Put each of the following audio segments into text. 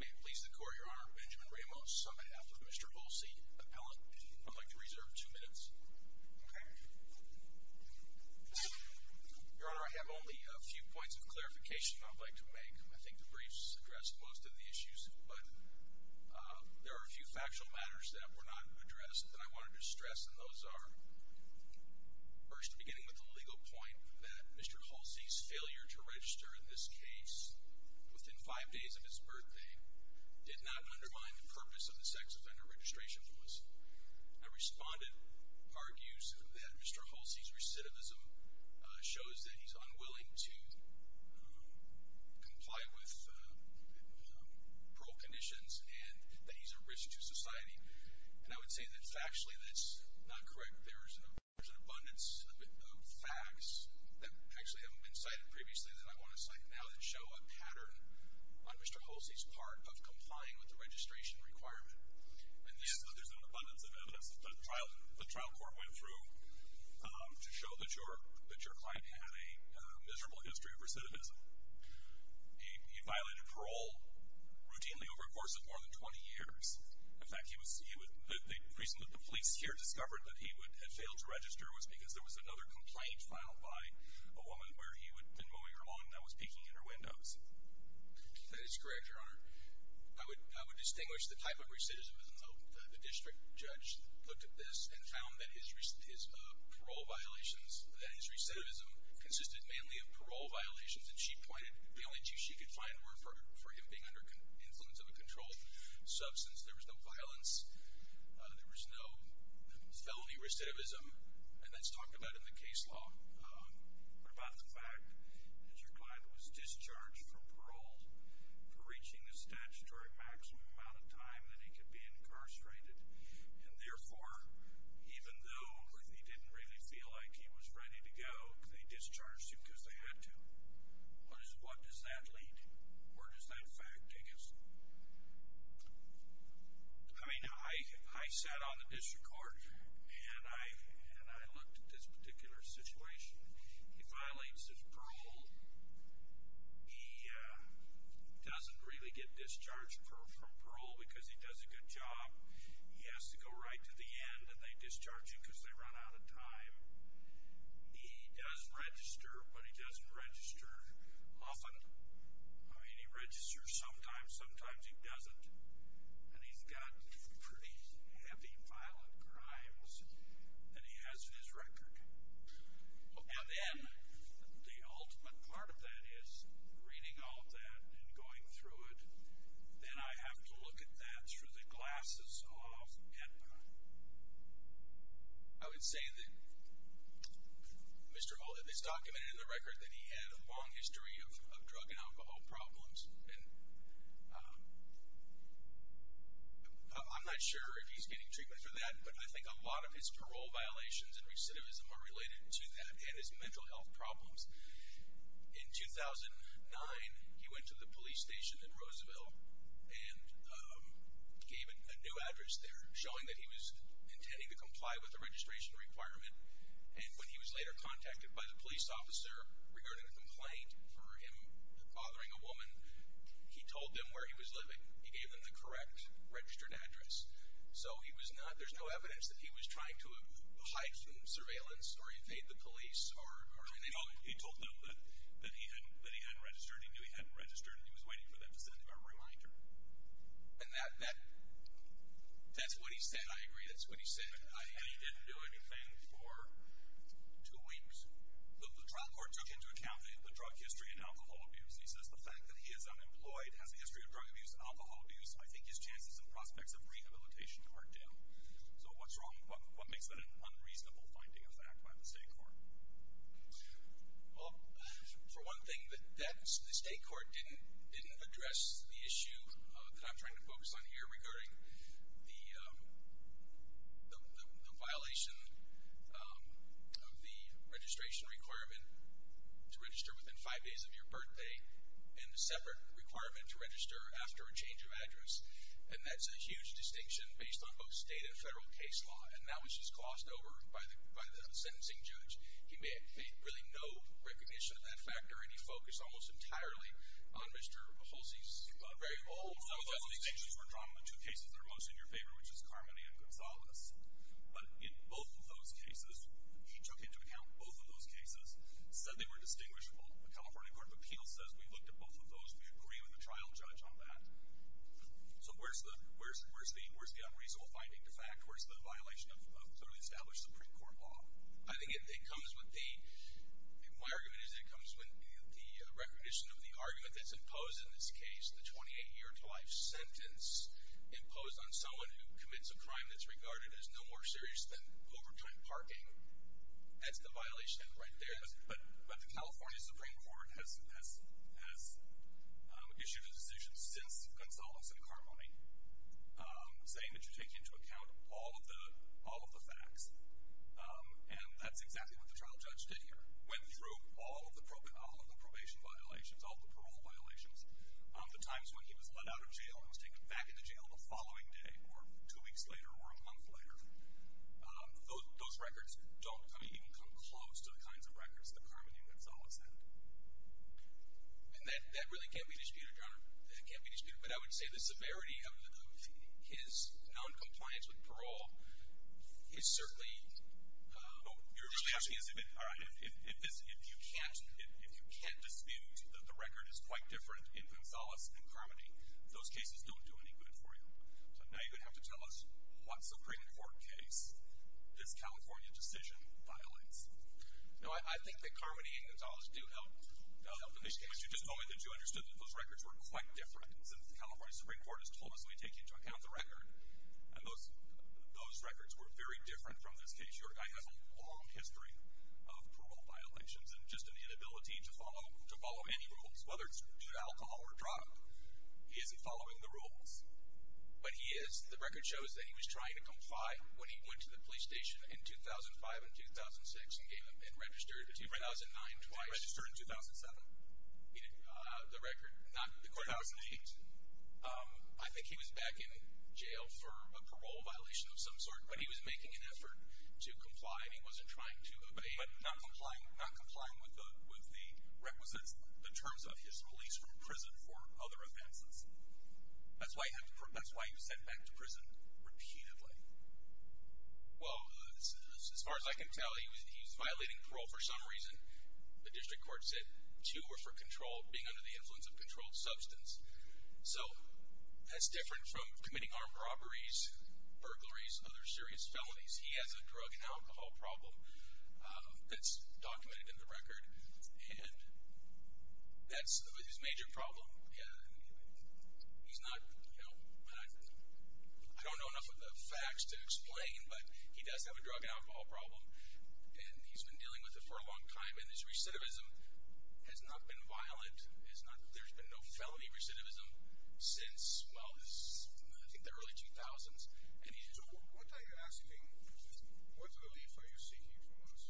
May it please the court, your honor, Benjamin Ramos on behalf of Mr. Holsey, appellant. I'd like to reserve two minutes. Okay. Your honor, I have only a few points of clarification I'd like to make. I think the briefs address most of the issues, but there are a few factual matters that were not addressed that I wanted to stress, and those are, first, beginning with the legal point that Mr. Holsey's failure to register in this case within five days of his birthday did not undermine the purpose of the sex offender registration process. A respondent argues that Mr. Holsey's recidivism shows that he's unwilling to comply with parole conditions and that he's a risk to society. And I would say that factually that's not correct. There's an abundance of facts that actually haven't been cited previously that I want to cite now that show a pattern on Mr. Holsey's part of complying with the registration requirement. And this is that there's an abundance of evidence that the trial court went through to show that your client had a miserable history of recidivism. He violated parole routinely over a course of more than 20 years. In fact, the reason that the police here discovered that he had failed to register was because there was another complaint filed by a woman where he had been moving her along and that was peeking in her windows. That is correct, Your Honor. I would distinguish the type of recidivism, though. The district judge looked at this and found that his parole violations, that his recidivism consisted mainly of parole violations. And she pointed, the only two she could find were for him being under influence of a controlled substance. There was no violence. There was no felony recidivism. And that's talked about in the case law. But about the fact that your client was discharged from parole for reaching the statutory maximum amount of time that he could be incarcerated. And therefore, even though he didn't really feel like he was ready to go, they discharged him because they had to. What does that lead to? Where does that fact take us? I mean, I sat on the district court and I looked at this particular situation. He violates his parole. He doesn't really get discharged from parole because he does a good job. He has to go right to the end and they discharge him because they run out of time. He does register, but he doesn't register often. I mean, he registers sometimes, sometimes he doesn't. And he's got pretty heavy violent crimes that he has in his record. And then the ultimate part of that is reading all of that and going through it. Then I have to look at that through the glasses of Edmund. I would say that Mr. Olyp is documented in the record that he had a long history of drug and alcohol problems. And I'm not sure if he's getting treatment for that. But I think a lot of his parole violations and recidivism are related to that and his mental health problems. In 2009, he went to the police station in Roosevelt and gave a new address there, showing that he was intending to comply with the registration requirement. And when he was later contacted by the police officer regarding a complaint for him bothering a woman, he told them where he was living. He gave them the correct registered address. So there's no evidence that he was trying to hide from surveillance or evade the police. He told them that he hadn't registered, he knew he hadn't registered, and he was waiting for them to send him a reminder. And that's what he said, I agree, that's what he said. And he didn't do anything for two weeks. The trial court took into account the drug history and alcohol abuse. He says the fact that he is unemployed, has a history of drug abuse and alcohol abuse, I think his chances and prospects of rehabilitation are down. So what's wrong, what makes that an unreasonable finding of the act by the state court? Well, for one thing, the state court didn't address the issue that I'm trying to focus on here regarding the violation of the registration requirement to register within five days of your birthday and the separate requirement to register after a change of address. And that's a huge distinction based on both state and federal case law. And that was just glossed over by the sentencing judge. He made really no recognition of that factor, and he focused almost entirely on Mr. Hulsey's very old case. Those distinctions were drawn on the two cases that are most in your favor, which is Carmody and Gonzalez. But in both of those cases, he took into account both of those cases, said they were distinguishable. The California Court of Appeals says we looked at both of those. We agree with the trial judge on that. So where's the unreasonable finding, the fact? Where's the violation of clearly established Supreme Court law? I think it comes with the—my argument is it comes with the recognition of the argument that's imposed in this case, the 28-year-to-life sentence imposed on someone who commits a crime that's regarded as no more serious than overtime parking. That's the violation right there. But the California Supreme Court has issued a decision since Gonzalez and Carmody saying that you take into account all of the facts. And that's exactly what the trial judge did here, went through all of the probation violations, all of the parole violations. The times when he was let out of jail and was taken back into jail the following day or two weeks later or a month later, those records don't even come close to the kinds of records that Carmody and Gonzalez had. And that really can't be disputed, Your Honor. That can't be disputed. But I would say the severity of his noncompliance with parole is certainly— Well, you're really asking—all right. If you can't dispute that the record is quite different in Gonzalez and Carmody, those cases don't do any good for you. So now you're going to have to tell us what Supreme Court case this California decision violates. Now, I think that Carmody and Gonzalez do help. They'll help in these cases. You just told me that you understood that those records were quite different since the California Supreme Court has told us we take into account the record. And those records were very different from this case. Your guy has a long history of parole violations and just an inability to follow any rules, whether it's to do alcohol or drug. He isn't following the rules. But he is. The record shows that he was trying to comply when he went to the police station in 2005 and 2006 and registered in 2009 twice. Registered in 2007. The record— 2008. I think he was back in jail for a parole violation of some sort. But he was making an effort to comply. He wasn't trying to obey. But not complying with the requisites, the terms of his release from prison for other offenses. That's why he was sent back to prison repeatedly. Well, as far as I can tell, he was violating parole for some reason. The district court said two were for control, being under the influence of controlled substance. So that's different from committing armed robberies, burglaries, other serious felonies. He has a drug and alcohol problem that's documented in the record, and that's his major problem. He's not—I don't know enough of the facts to explain, but he does have a drug and alcohol problem, and he's been dealing with it for a long time. And his recidivism has not been violent. There's been no felony recidivism since, well, I think the early 2000s. So what are you asking? What relief are you seeking from us?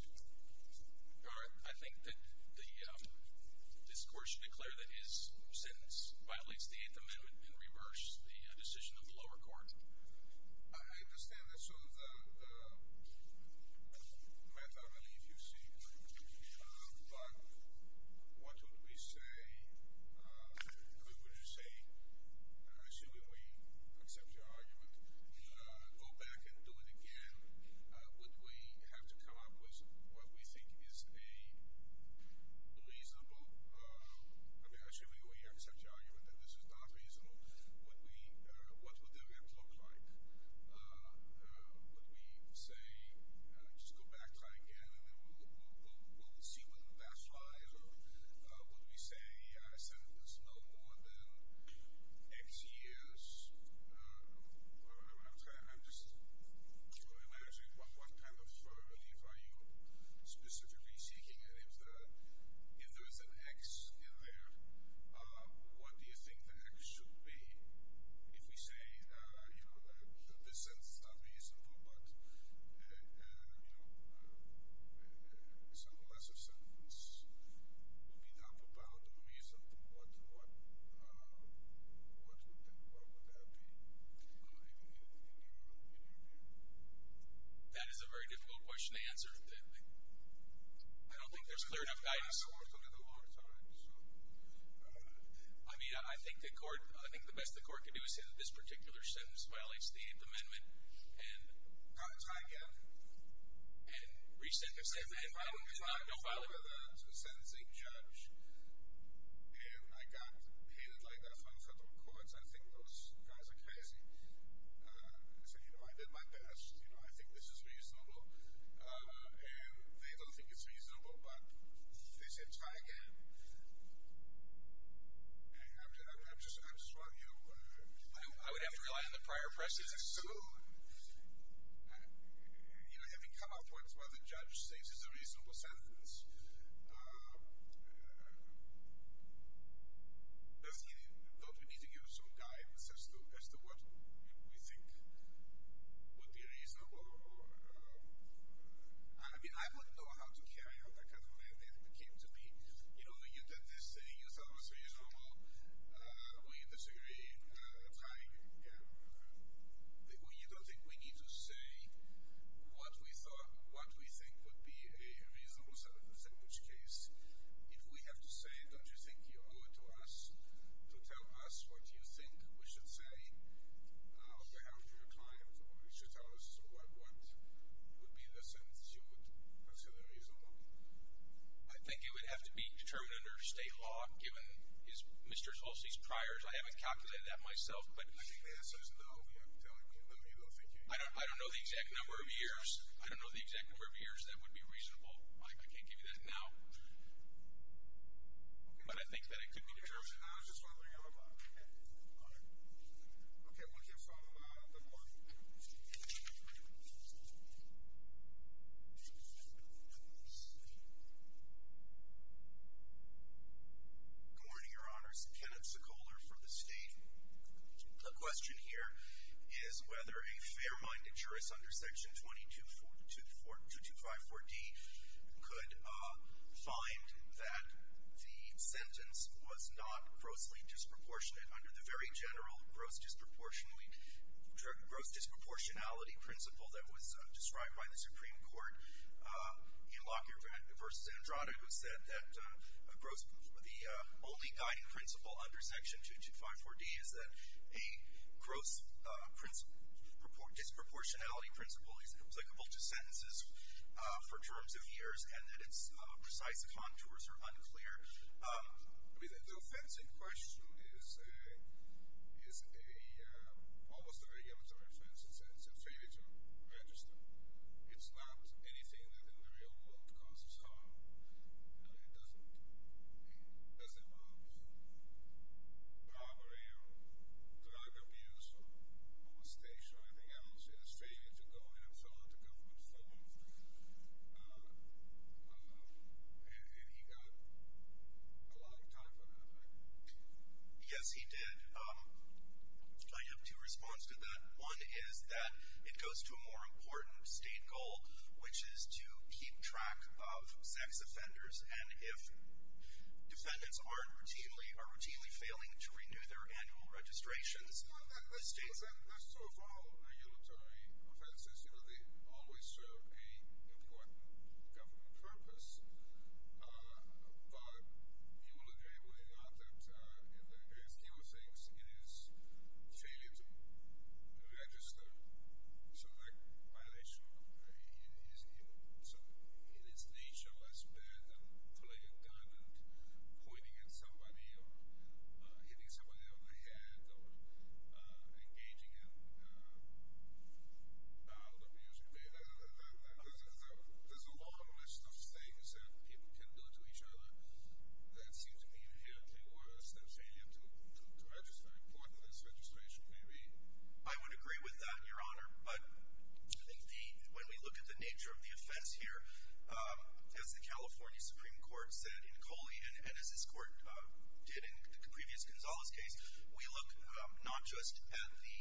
All right. I think that this court should declare that his sentence violates the Eighth Amendment and reverse the decision of the lower court. I understand that's sort of the method of relief you seek. But what would you say, assuming we accept your argument, go back and do it again? Would we have to come up with what we think is a reasonable— I mean, assuming we accept your argument that this is not reasonable, what would that have to look like? Would we say, just go back, try again, and then we'll see whether that's right? Would we say a sentence no more than X years? I'm just trying to imagine what kind of further relief are you specifically seeking? And if there is an X in there, what do you think the X should be? If we say, you know, this sentence is not reasonable, but, you know, it's a lesser sentence made up about a reason, what would that be? That is a very difficult question to answer. I don't think there's clear enough guidance. It's a little more time, so. I mean, I think the court—I think the best the court could do is say that this particular sentence violates the 8th Amendment and— No, try again. And reset the sentence and file it? No, file it. With a sentencing judge. And I got hit like that from federal courts. I think those guys are crazy. I said, you know, I did my best. You know, I think this is reasonable. And they don't think it's reasonable, but if they say try again, I'm just warning you. I would have to rely on the prior presses as soon. You know, having come up with what the judge says is a reasonable sentence, does he think we need to give some guidance as to what we think would be reasonable? I mean, I don't know how to carry out that kind of thing. It came to me. You know, you did this saying you thought it was reasonable when you disagree. Try again. You don't think we need to say what we think would be a reasonable sentence, in which case if we have to say, don't you think you owe it to us to tell us what you think we should say on behalf of your client, or you should tell us what would be the sentence you would consider reasonable? I think it would have to be determined under state law, given Mr. Tulsi's priors. I haven't calculated that myself. I think the answer is no. I don't know the exact number of years. I don't know the exact number of years that would be reasonable. I can't give you that now. But I think that it could be determined. I was just wondering about that. All right. Okay, we'll just talk about the court. Good morning, Your Honors. Kenneth Sikoler from the state. The question here is whether a fair-minded jurist under Section 2254D could find that the sentence was not grossly disproportionate principle that was described by the Supreme Court in Lockyer v. Andrada, who said that the only guiding principle under Section 2254D is that a gross disproportionality principle is applicable to sentences for terms of years and that its precise contours are unclear. I mean, the offensive question is almost a regulatory offense. It's in Australia to register. It's not anything that in the real world causes harm. I mean, it doesn't involve bribery or drug abuse or moustache or anything else. It's in Australia to go and have someone to come and perform. And he got a lot of time for that, I think. Yes, he did. I have two responses to that. One is that it goes to a more important state goal, which is to keep track of sex offenders, and if defendants are routinely failing to renew their annual registrations. That's true of all regulatory offenses. You know, they always serve an important government purpose, but you will agree with me that in the case he was in, it is failure to register. So that violation in its nature was bad than playing a gun and pointing at somebody or hitting somebody on the head or engaging in abuse. There's a long list of things that people can do to each other that seems to be inherently worse than failure to register, important as registration may be. I would agree with that, Your Honor. But I think when we look at the nature of the offense here, as the California Supreme Court said, in Coley and as this Court did in the previous Gonzales case, we look not just at the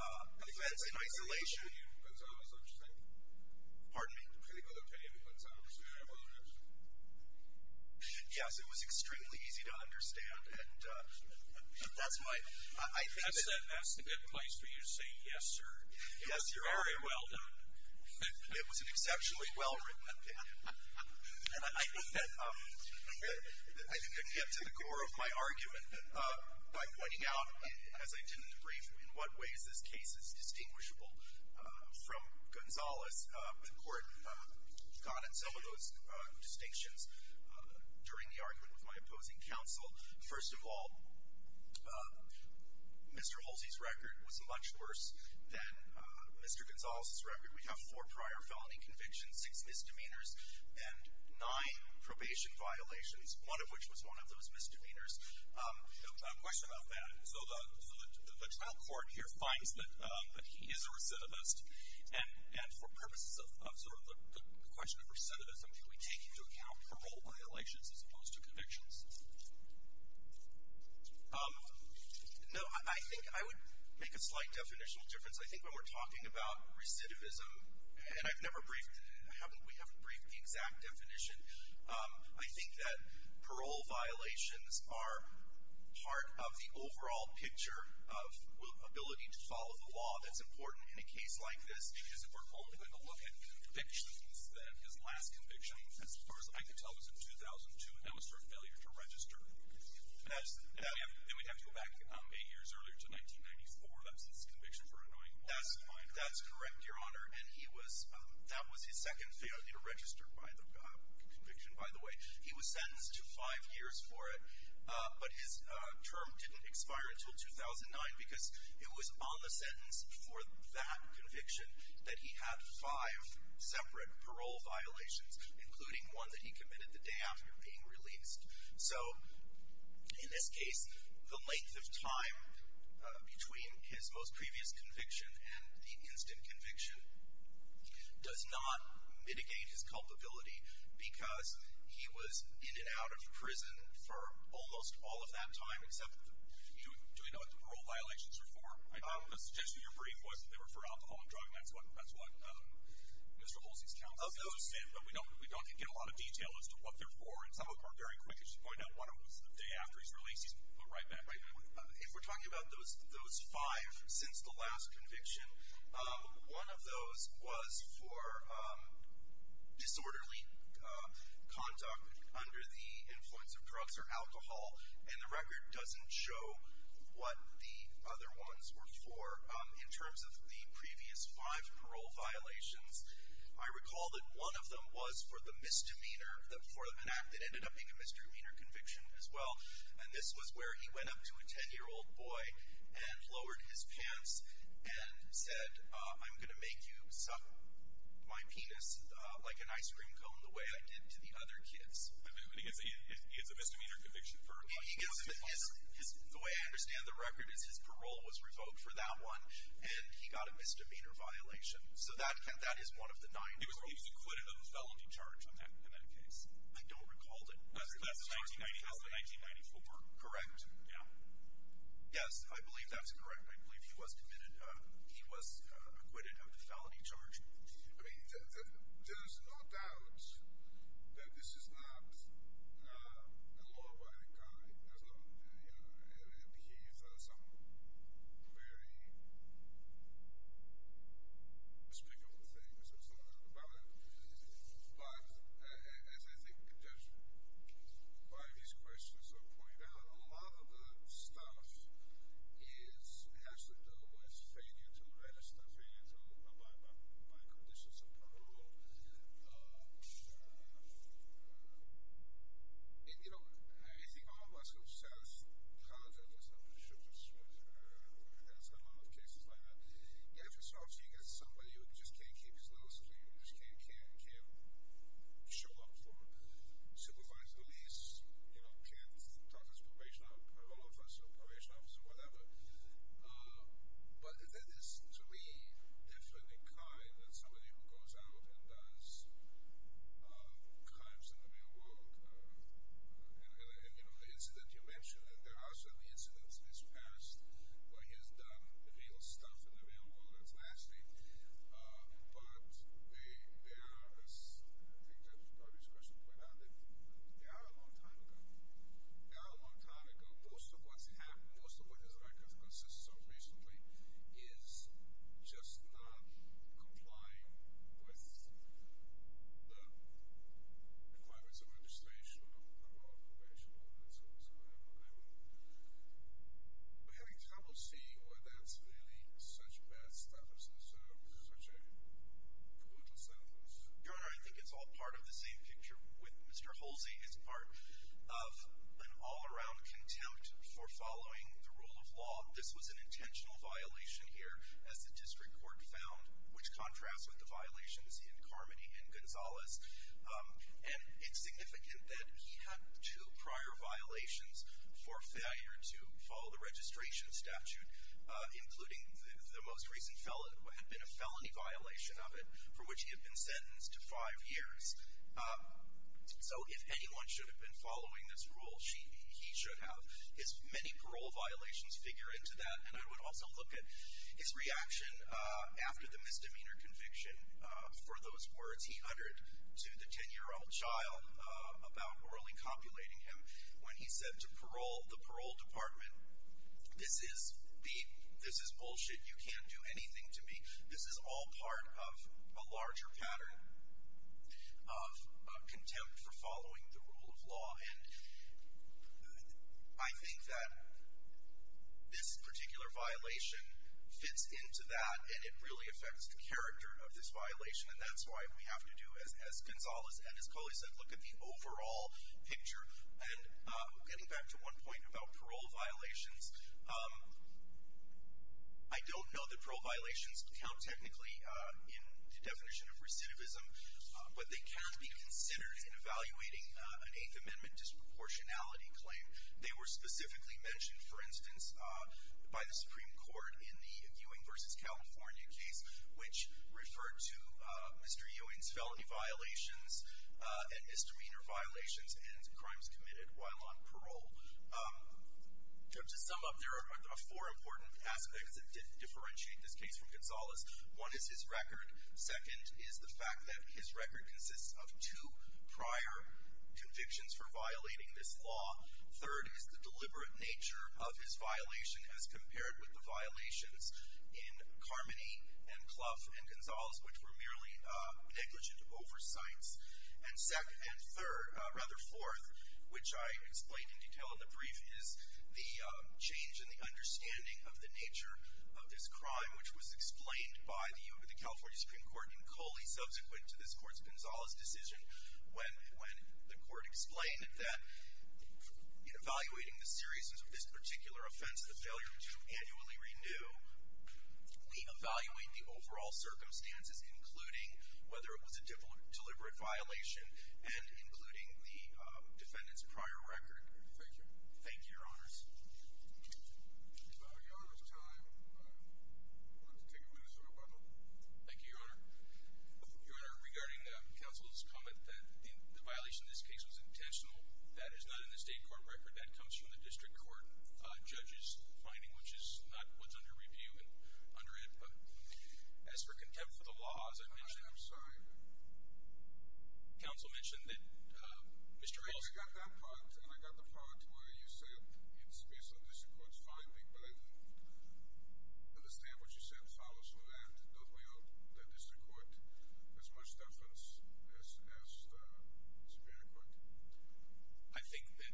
offense in isolation. Are you Gonzales understanding? Pardon me? Are you okay with Gonzales being able to register? Yes. It was extremely easy to understand. That's the best place for you to say yes, sir. Yes, Your Honor. Very well done. It was an exceptionally well written opinion. I think I can get to the core of my argument by pointing out, as I did in the brief, in what ways this case is distinguishable from Gonzales. The Court got at some of those distinctions during the argument with my opposing counsel. First of all, Mr. Holsey's record was much worse than Mr. Gonzales' record. We have four prior felony convictions, six misdemeanors, and nine probation violations, one of which was one of those misdemeanors. A question about that. So the trial court here finds that he is a recidivist, and for purposes of sort of the question of recidivism, can we take into account parole violations as opposed to convictions? No, I think I would make a slight definitional difference. I think when we're talking about recidivism, and we haven't briefed the exact definition, I think that parole violations are part of the overall picture of ability to follow the law. That's important in a case like this because if we're only going to look at convictions, then his last conviction, as far as I can tell, was in 2002, and that was for a failure to register. Then we'd have to go back eight years earlier to 1994. That's his conviction for annoying law enforcement. That's correct, Your Honor, and that was his second failure to register conviction, by the way. He was sentenced to five years for it, but his term didn't expire until 2009 because it was on the sentence for that conviction that he had five separate parole violations, including one that he committed the day after being released. So in this case, the length of time between his most previous conviction and the instant conviction does not mitigate his culpability because he was in and out of prison for almost all of that time. Do we know what the parole violations are for? The suggestion in your brief was that they were for alcohol and drug, and that's what Mr. Holsey's counsel said. We don't get a lot of detail as to what they're for, and some of them are very quick. As you point out, one of them was the day after he was released. He's put right back. If we're talking about those five since the last conviction, one of those was for disorderly conduct under the influence of drugs or alcohol, and the record doesn't show what the other ones were for in terms of the previous five parole violations. I recall that one of them was for the misdemeanor, for an act that ended up being a misdemeanor conviction as well, and this was where he went up to a 10-year-old boy and lowered his pants and said, I'm going to make you suck my penis like an ice cream cone the way I did to the other kids. But he gets a misdemeanor conviction for what? The way I understand the record is his parole was revoked for that one, and he got a misdemeanor violation. So that is one of the nine parole violations. He was acquitted of the felony charge in that case. I don't recall it. That's the 1994. Correct. Yeah. Yes, I believe that's correct. I believe he was committed. He was acquitted of the felony charge. I mean, there's no doubt that this is not a law-abiding guy. There's no, you know, he's done some very respectable things. There's no doubt about it. But as I think Judges by these questions have pointed out, a lot of the stuff has to do with failure to register, failure to abide by conditions of parole. And, you know, I think all of us who sell condoms and stuff and sugar sweets or have done a lot of cases like that, you have to start thinking of somebody who just can't keep his lips clean, who just can't show up for supervised release, you know, can't talk to his probation officer, parole officer, probation officer, whatever. But that is, to me, different in crime than somebody who goes out and does crimes in the real world. And, you know, the incident you mentioned, there are some incidents in his past where he has done real stuff in the real world, and it's nasty, but they are, as I think Judges by these questions pointed out, they are a long time ago. They are a long time ago. Most of what's happened, most of what his record consists of recently is just not complying with the requirements of registration of parole, probation, all of that stuff. So I'm having trouble seeing where that's really such bad stuff, such a brutal sentence. Your Honor, I think it's all part of the same picture with Mr. Holsey. It's part of an all-around contempt for following the rule of law. This was an intentional violation here, as the district court found, which contrasts with the violations in Carmody and Gonzalez. And it's significant that he had two prior violations for failure to follow the registration statute, including the most recent felon, had been a felony violation of it, for which he had been sentenced to five years. So if anyone should have been following this rule, he should have. His many parole violations figure into that, and I would also look at his reaction after the misdemeanor conviction. For those words he uttered to the 10-year-old child about morally copulating him when he said to the parole department, this is bullshit, you can't do anything to me. This is all part of a larger pattern of contempt for following the rule of law. And I think that this particular violation fits into that, and it really affects the character of this violation, and that's why we have to do, as Gonzalez and his colleagues said, look at the overall picture. And getting back to one point about parole violations, I don't know that parole violations count technically in the definition of recidivism, but they can be considered in evaluating an Eighth Amendment disproportionality claim. They were specifically mentioned, for instance, by the Supreme Court in the Ewing v. California case, which referred to Mr. Ewing's felony violations and misdemeanor violations and crimes committed while on parole. To sum up, there are four important aspects that differentiate this case from Gonzalez. One is his record. Second is the fact that his record consists of two prior convictions for violating this law. Third is the deliberate nature of his violation, as compared with the violations in Carmody and Clough and Gonzalez, which were merely negligent oversights. And third, rather fourth, which I explain in detail in the brief, is the change in the understanding of the nature of this crime, which was explained by the California Supreme Court in Coley, subsequent to this court's Gonzalez decision, when the court explained that in evaluating the seriousness of this particular offense, the failure to annually renew, we evaluate the overall circumstances, including whether it was a deliberate violation, and including the defendant's prior record. Thank you. Thank you, Your Honors. It's about Your Honor's time. I'd like to take a minute to wrap up. Thank you, Your Honor. Your Honor, regarding counsel's comment that the violation in this case was intentional, that is not in the state court record. That comes from the district court judge's finding, which is not what's under review. As for contempt for the law, as I mentioned. I'm sorry. Counsel mentioned that Mr. Reyes. Well, I got that part, and I got the part where you say, in the space of this court's five people, understand what you said follows from that. Don't we owe the district court as much deference as the superior court? I think that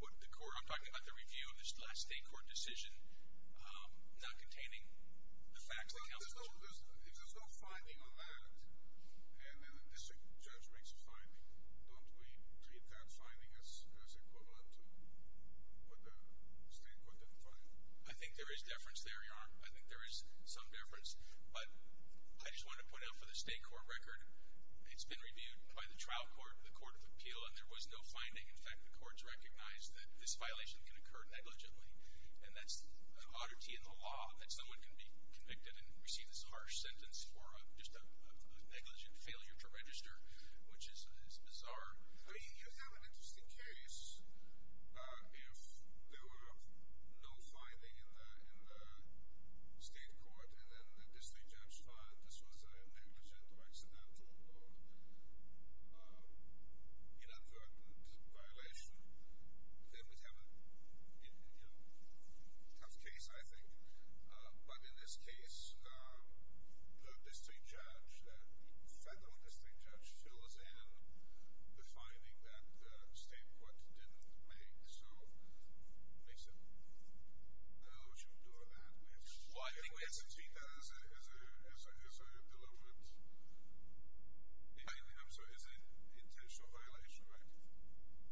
what the court, I'm talking about the review of this last state court decision, not containing the facts that counsel mentioned. If there's no finding on that, and the district judge makes a finding, don't we treat that finding as equivalent to what the state court did for you? I think there is deference there, Your Honor. I think there is some deference. But I just want to point out for the state court record, it's been reviewed by the trial court, the court of appeal, and there was no finding. In fact, the courts recognized that this violation can occur negligibly, and that's an oddity in the law that someone can be convicted and receive this harsh sentence for just a negligent failure to register, which is bizarre. I mean, you'd have an interesting case if there were no finding in the state court, and then the district judge found this was a negligent or accidental or inadvertent violation. Then we'd have a tough case, I think. But in this case, the district judge, the federal district judge, fills in the finding that the state court didn't make. So, Mason, I don't know what you would do with that. Well, I think we have to treat that as a deliberate violation. I'm sorry, as an intentional violation, right?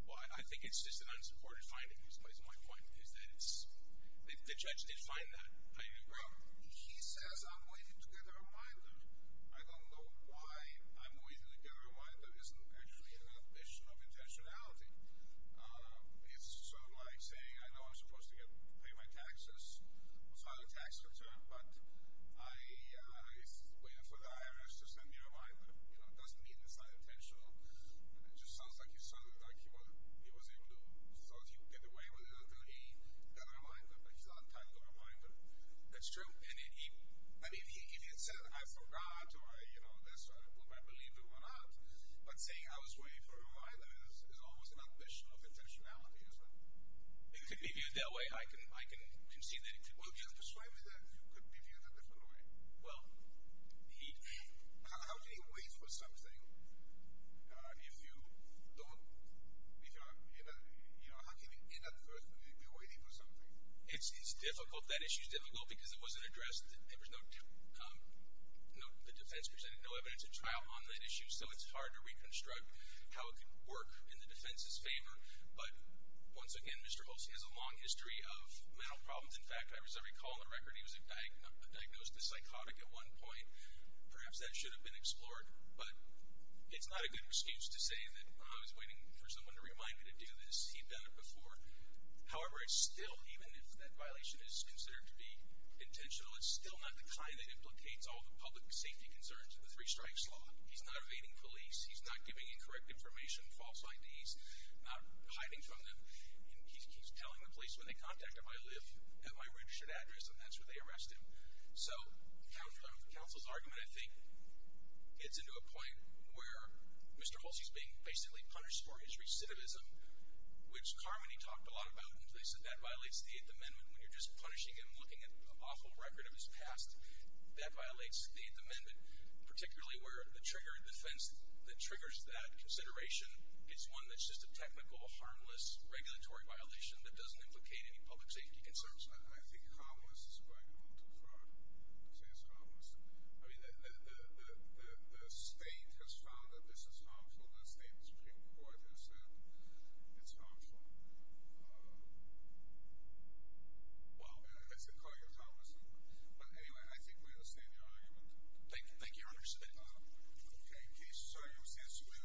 Well, I think it's just an unsupported finding. The judge did find that. He says, I'm waiting to get a reminder. I don't know why I'm waiting to get a reminder. It isn't actually an admission of intentionality. It's sort of like saying, I know I'm supposed to pay my taxes, file a tax return, but I'm waiting for the IRS to send me a reminder. It doesn't mean it's unintentional. It just sounds like he was able to get away with it until he got a reminder, but he's not entitled to a reminder. That's true. I mean, if he had said, I forgot or I believed it or not, but saying I was waiting for a reminder is almost an admission of intentionality, isn't it? It could be viewed that way. I can see that. Well, can you persuade me that it could be viewed a different way? Well, indeed. How can you wait for something if you don't? How can you inadvertently be waiting for something? It's difficult. That issue is difficult because it wasn't addressed. There was no defense presented, no evidence of trial on the issue, so it's hard to reconstruct how it could work in the defense's favor. But once again, Mr. Olson has a long history of mental problems. In fact, I recall the record, he was diagnosed as psychotic at one point. Perhaps that should have been explored, but it's not a good excuse to say that I was waiting for someone to remind me to do this. He'd done it before. However, it's still, even if that violation is considered to be intentional, it's still not the kind that implicates all the public safety concerns in the three-strikes law. He's not evading police. He's not giving incorrect information, false IDs, not hiding from them. He keeps telling the police when they contact him, I live at my registered address, and that's where they arrest him. So counsel's argument, I think, gets into a point where Mr. Olson is being basically punished for his recidivism, which Carmody talked a lot about when he said that violates the Eighth Amendment when you're just punishing him, looking at an awful record of his past. That violates the Eighth Amendment, particularly where the trigger defense that triggers that consideration is one that's just a technical, harmless regulatory violation that doesn't implicate any public safety concerns. I think harmless is going a little too far to say it's harmless. I mean, the state has found that this is harmful. The state Supreme Court has said it's harmful. Well, let's call it harmless. But anyway, I think we understand your argument. Thank you, Your Honor. Thank you. Okay. Thank you.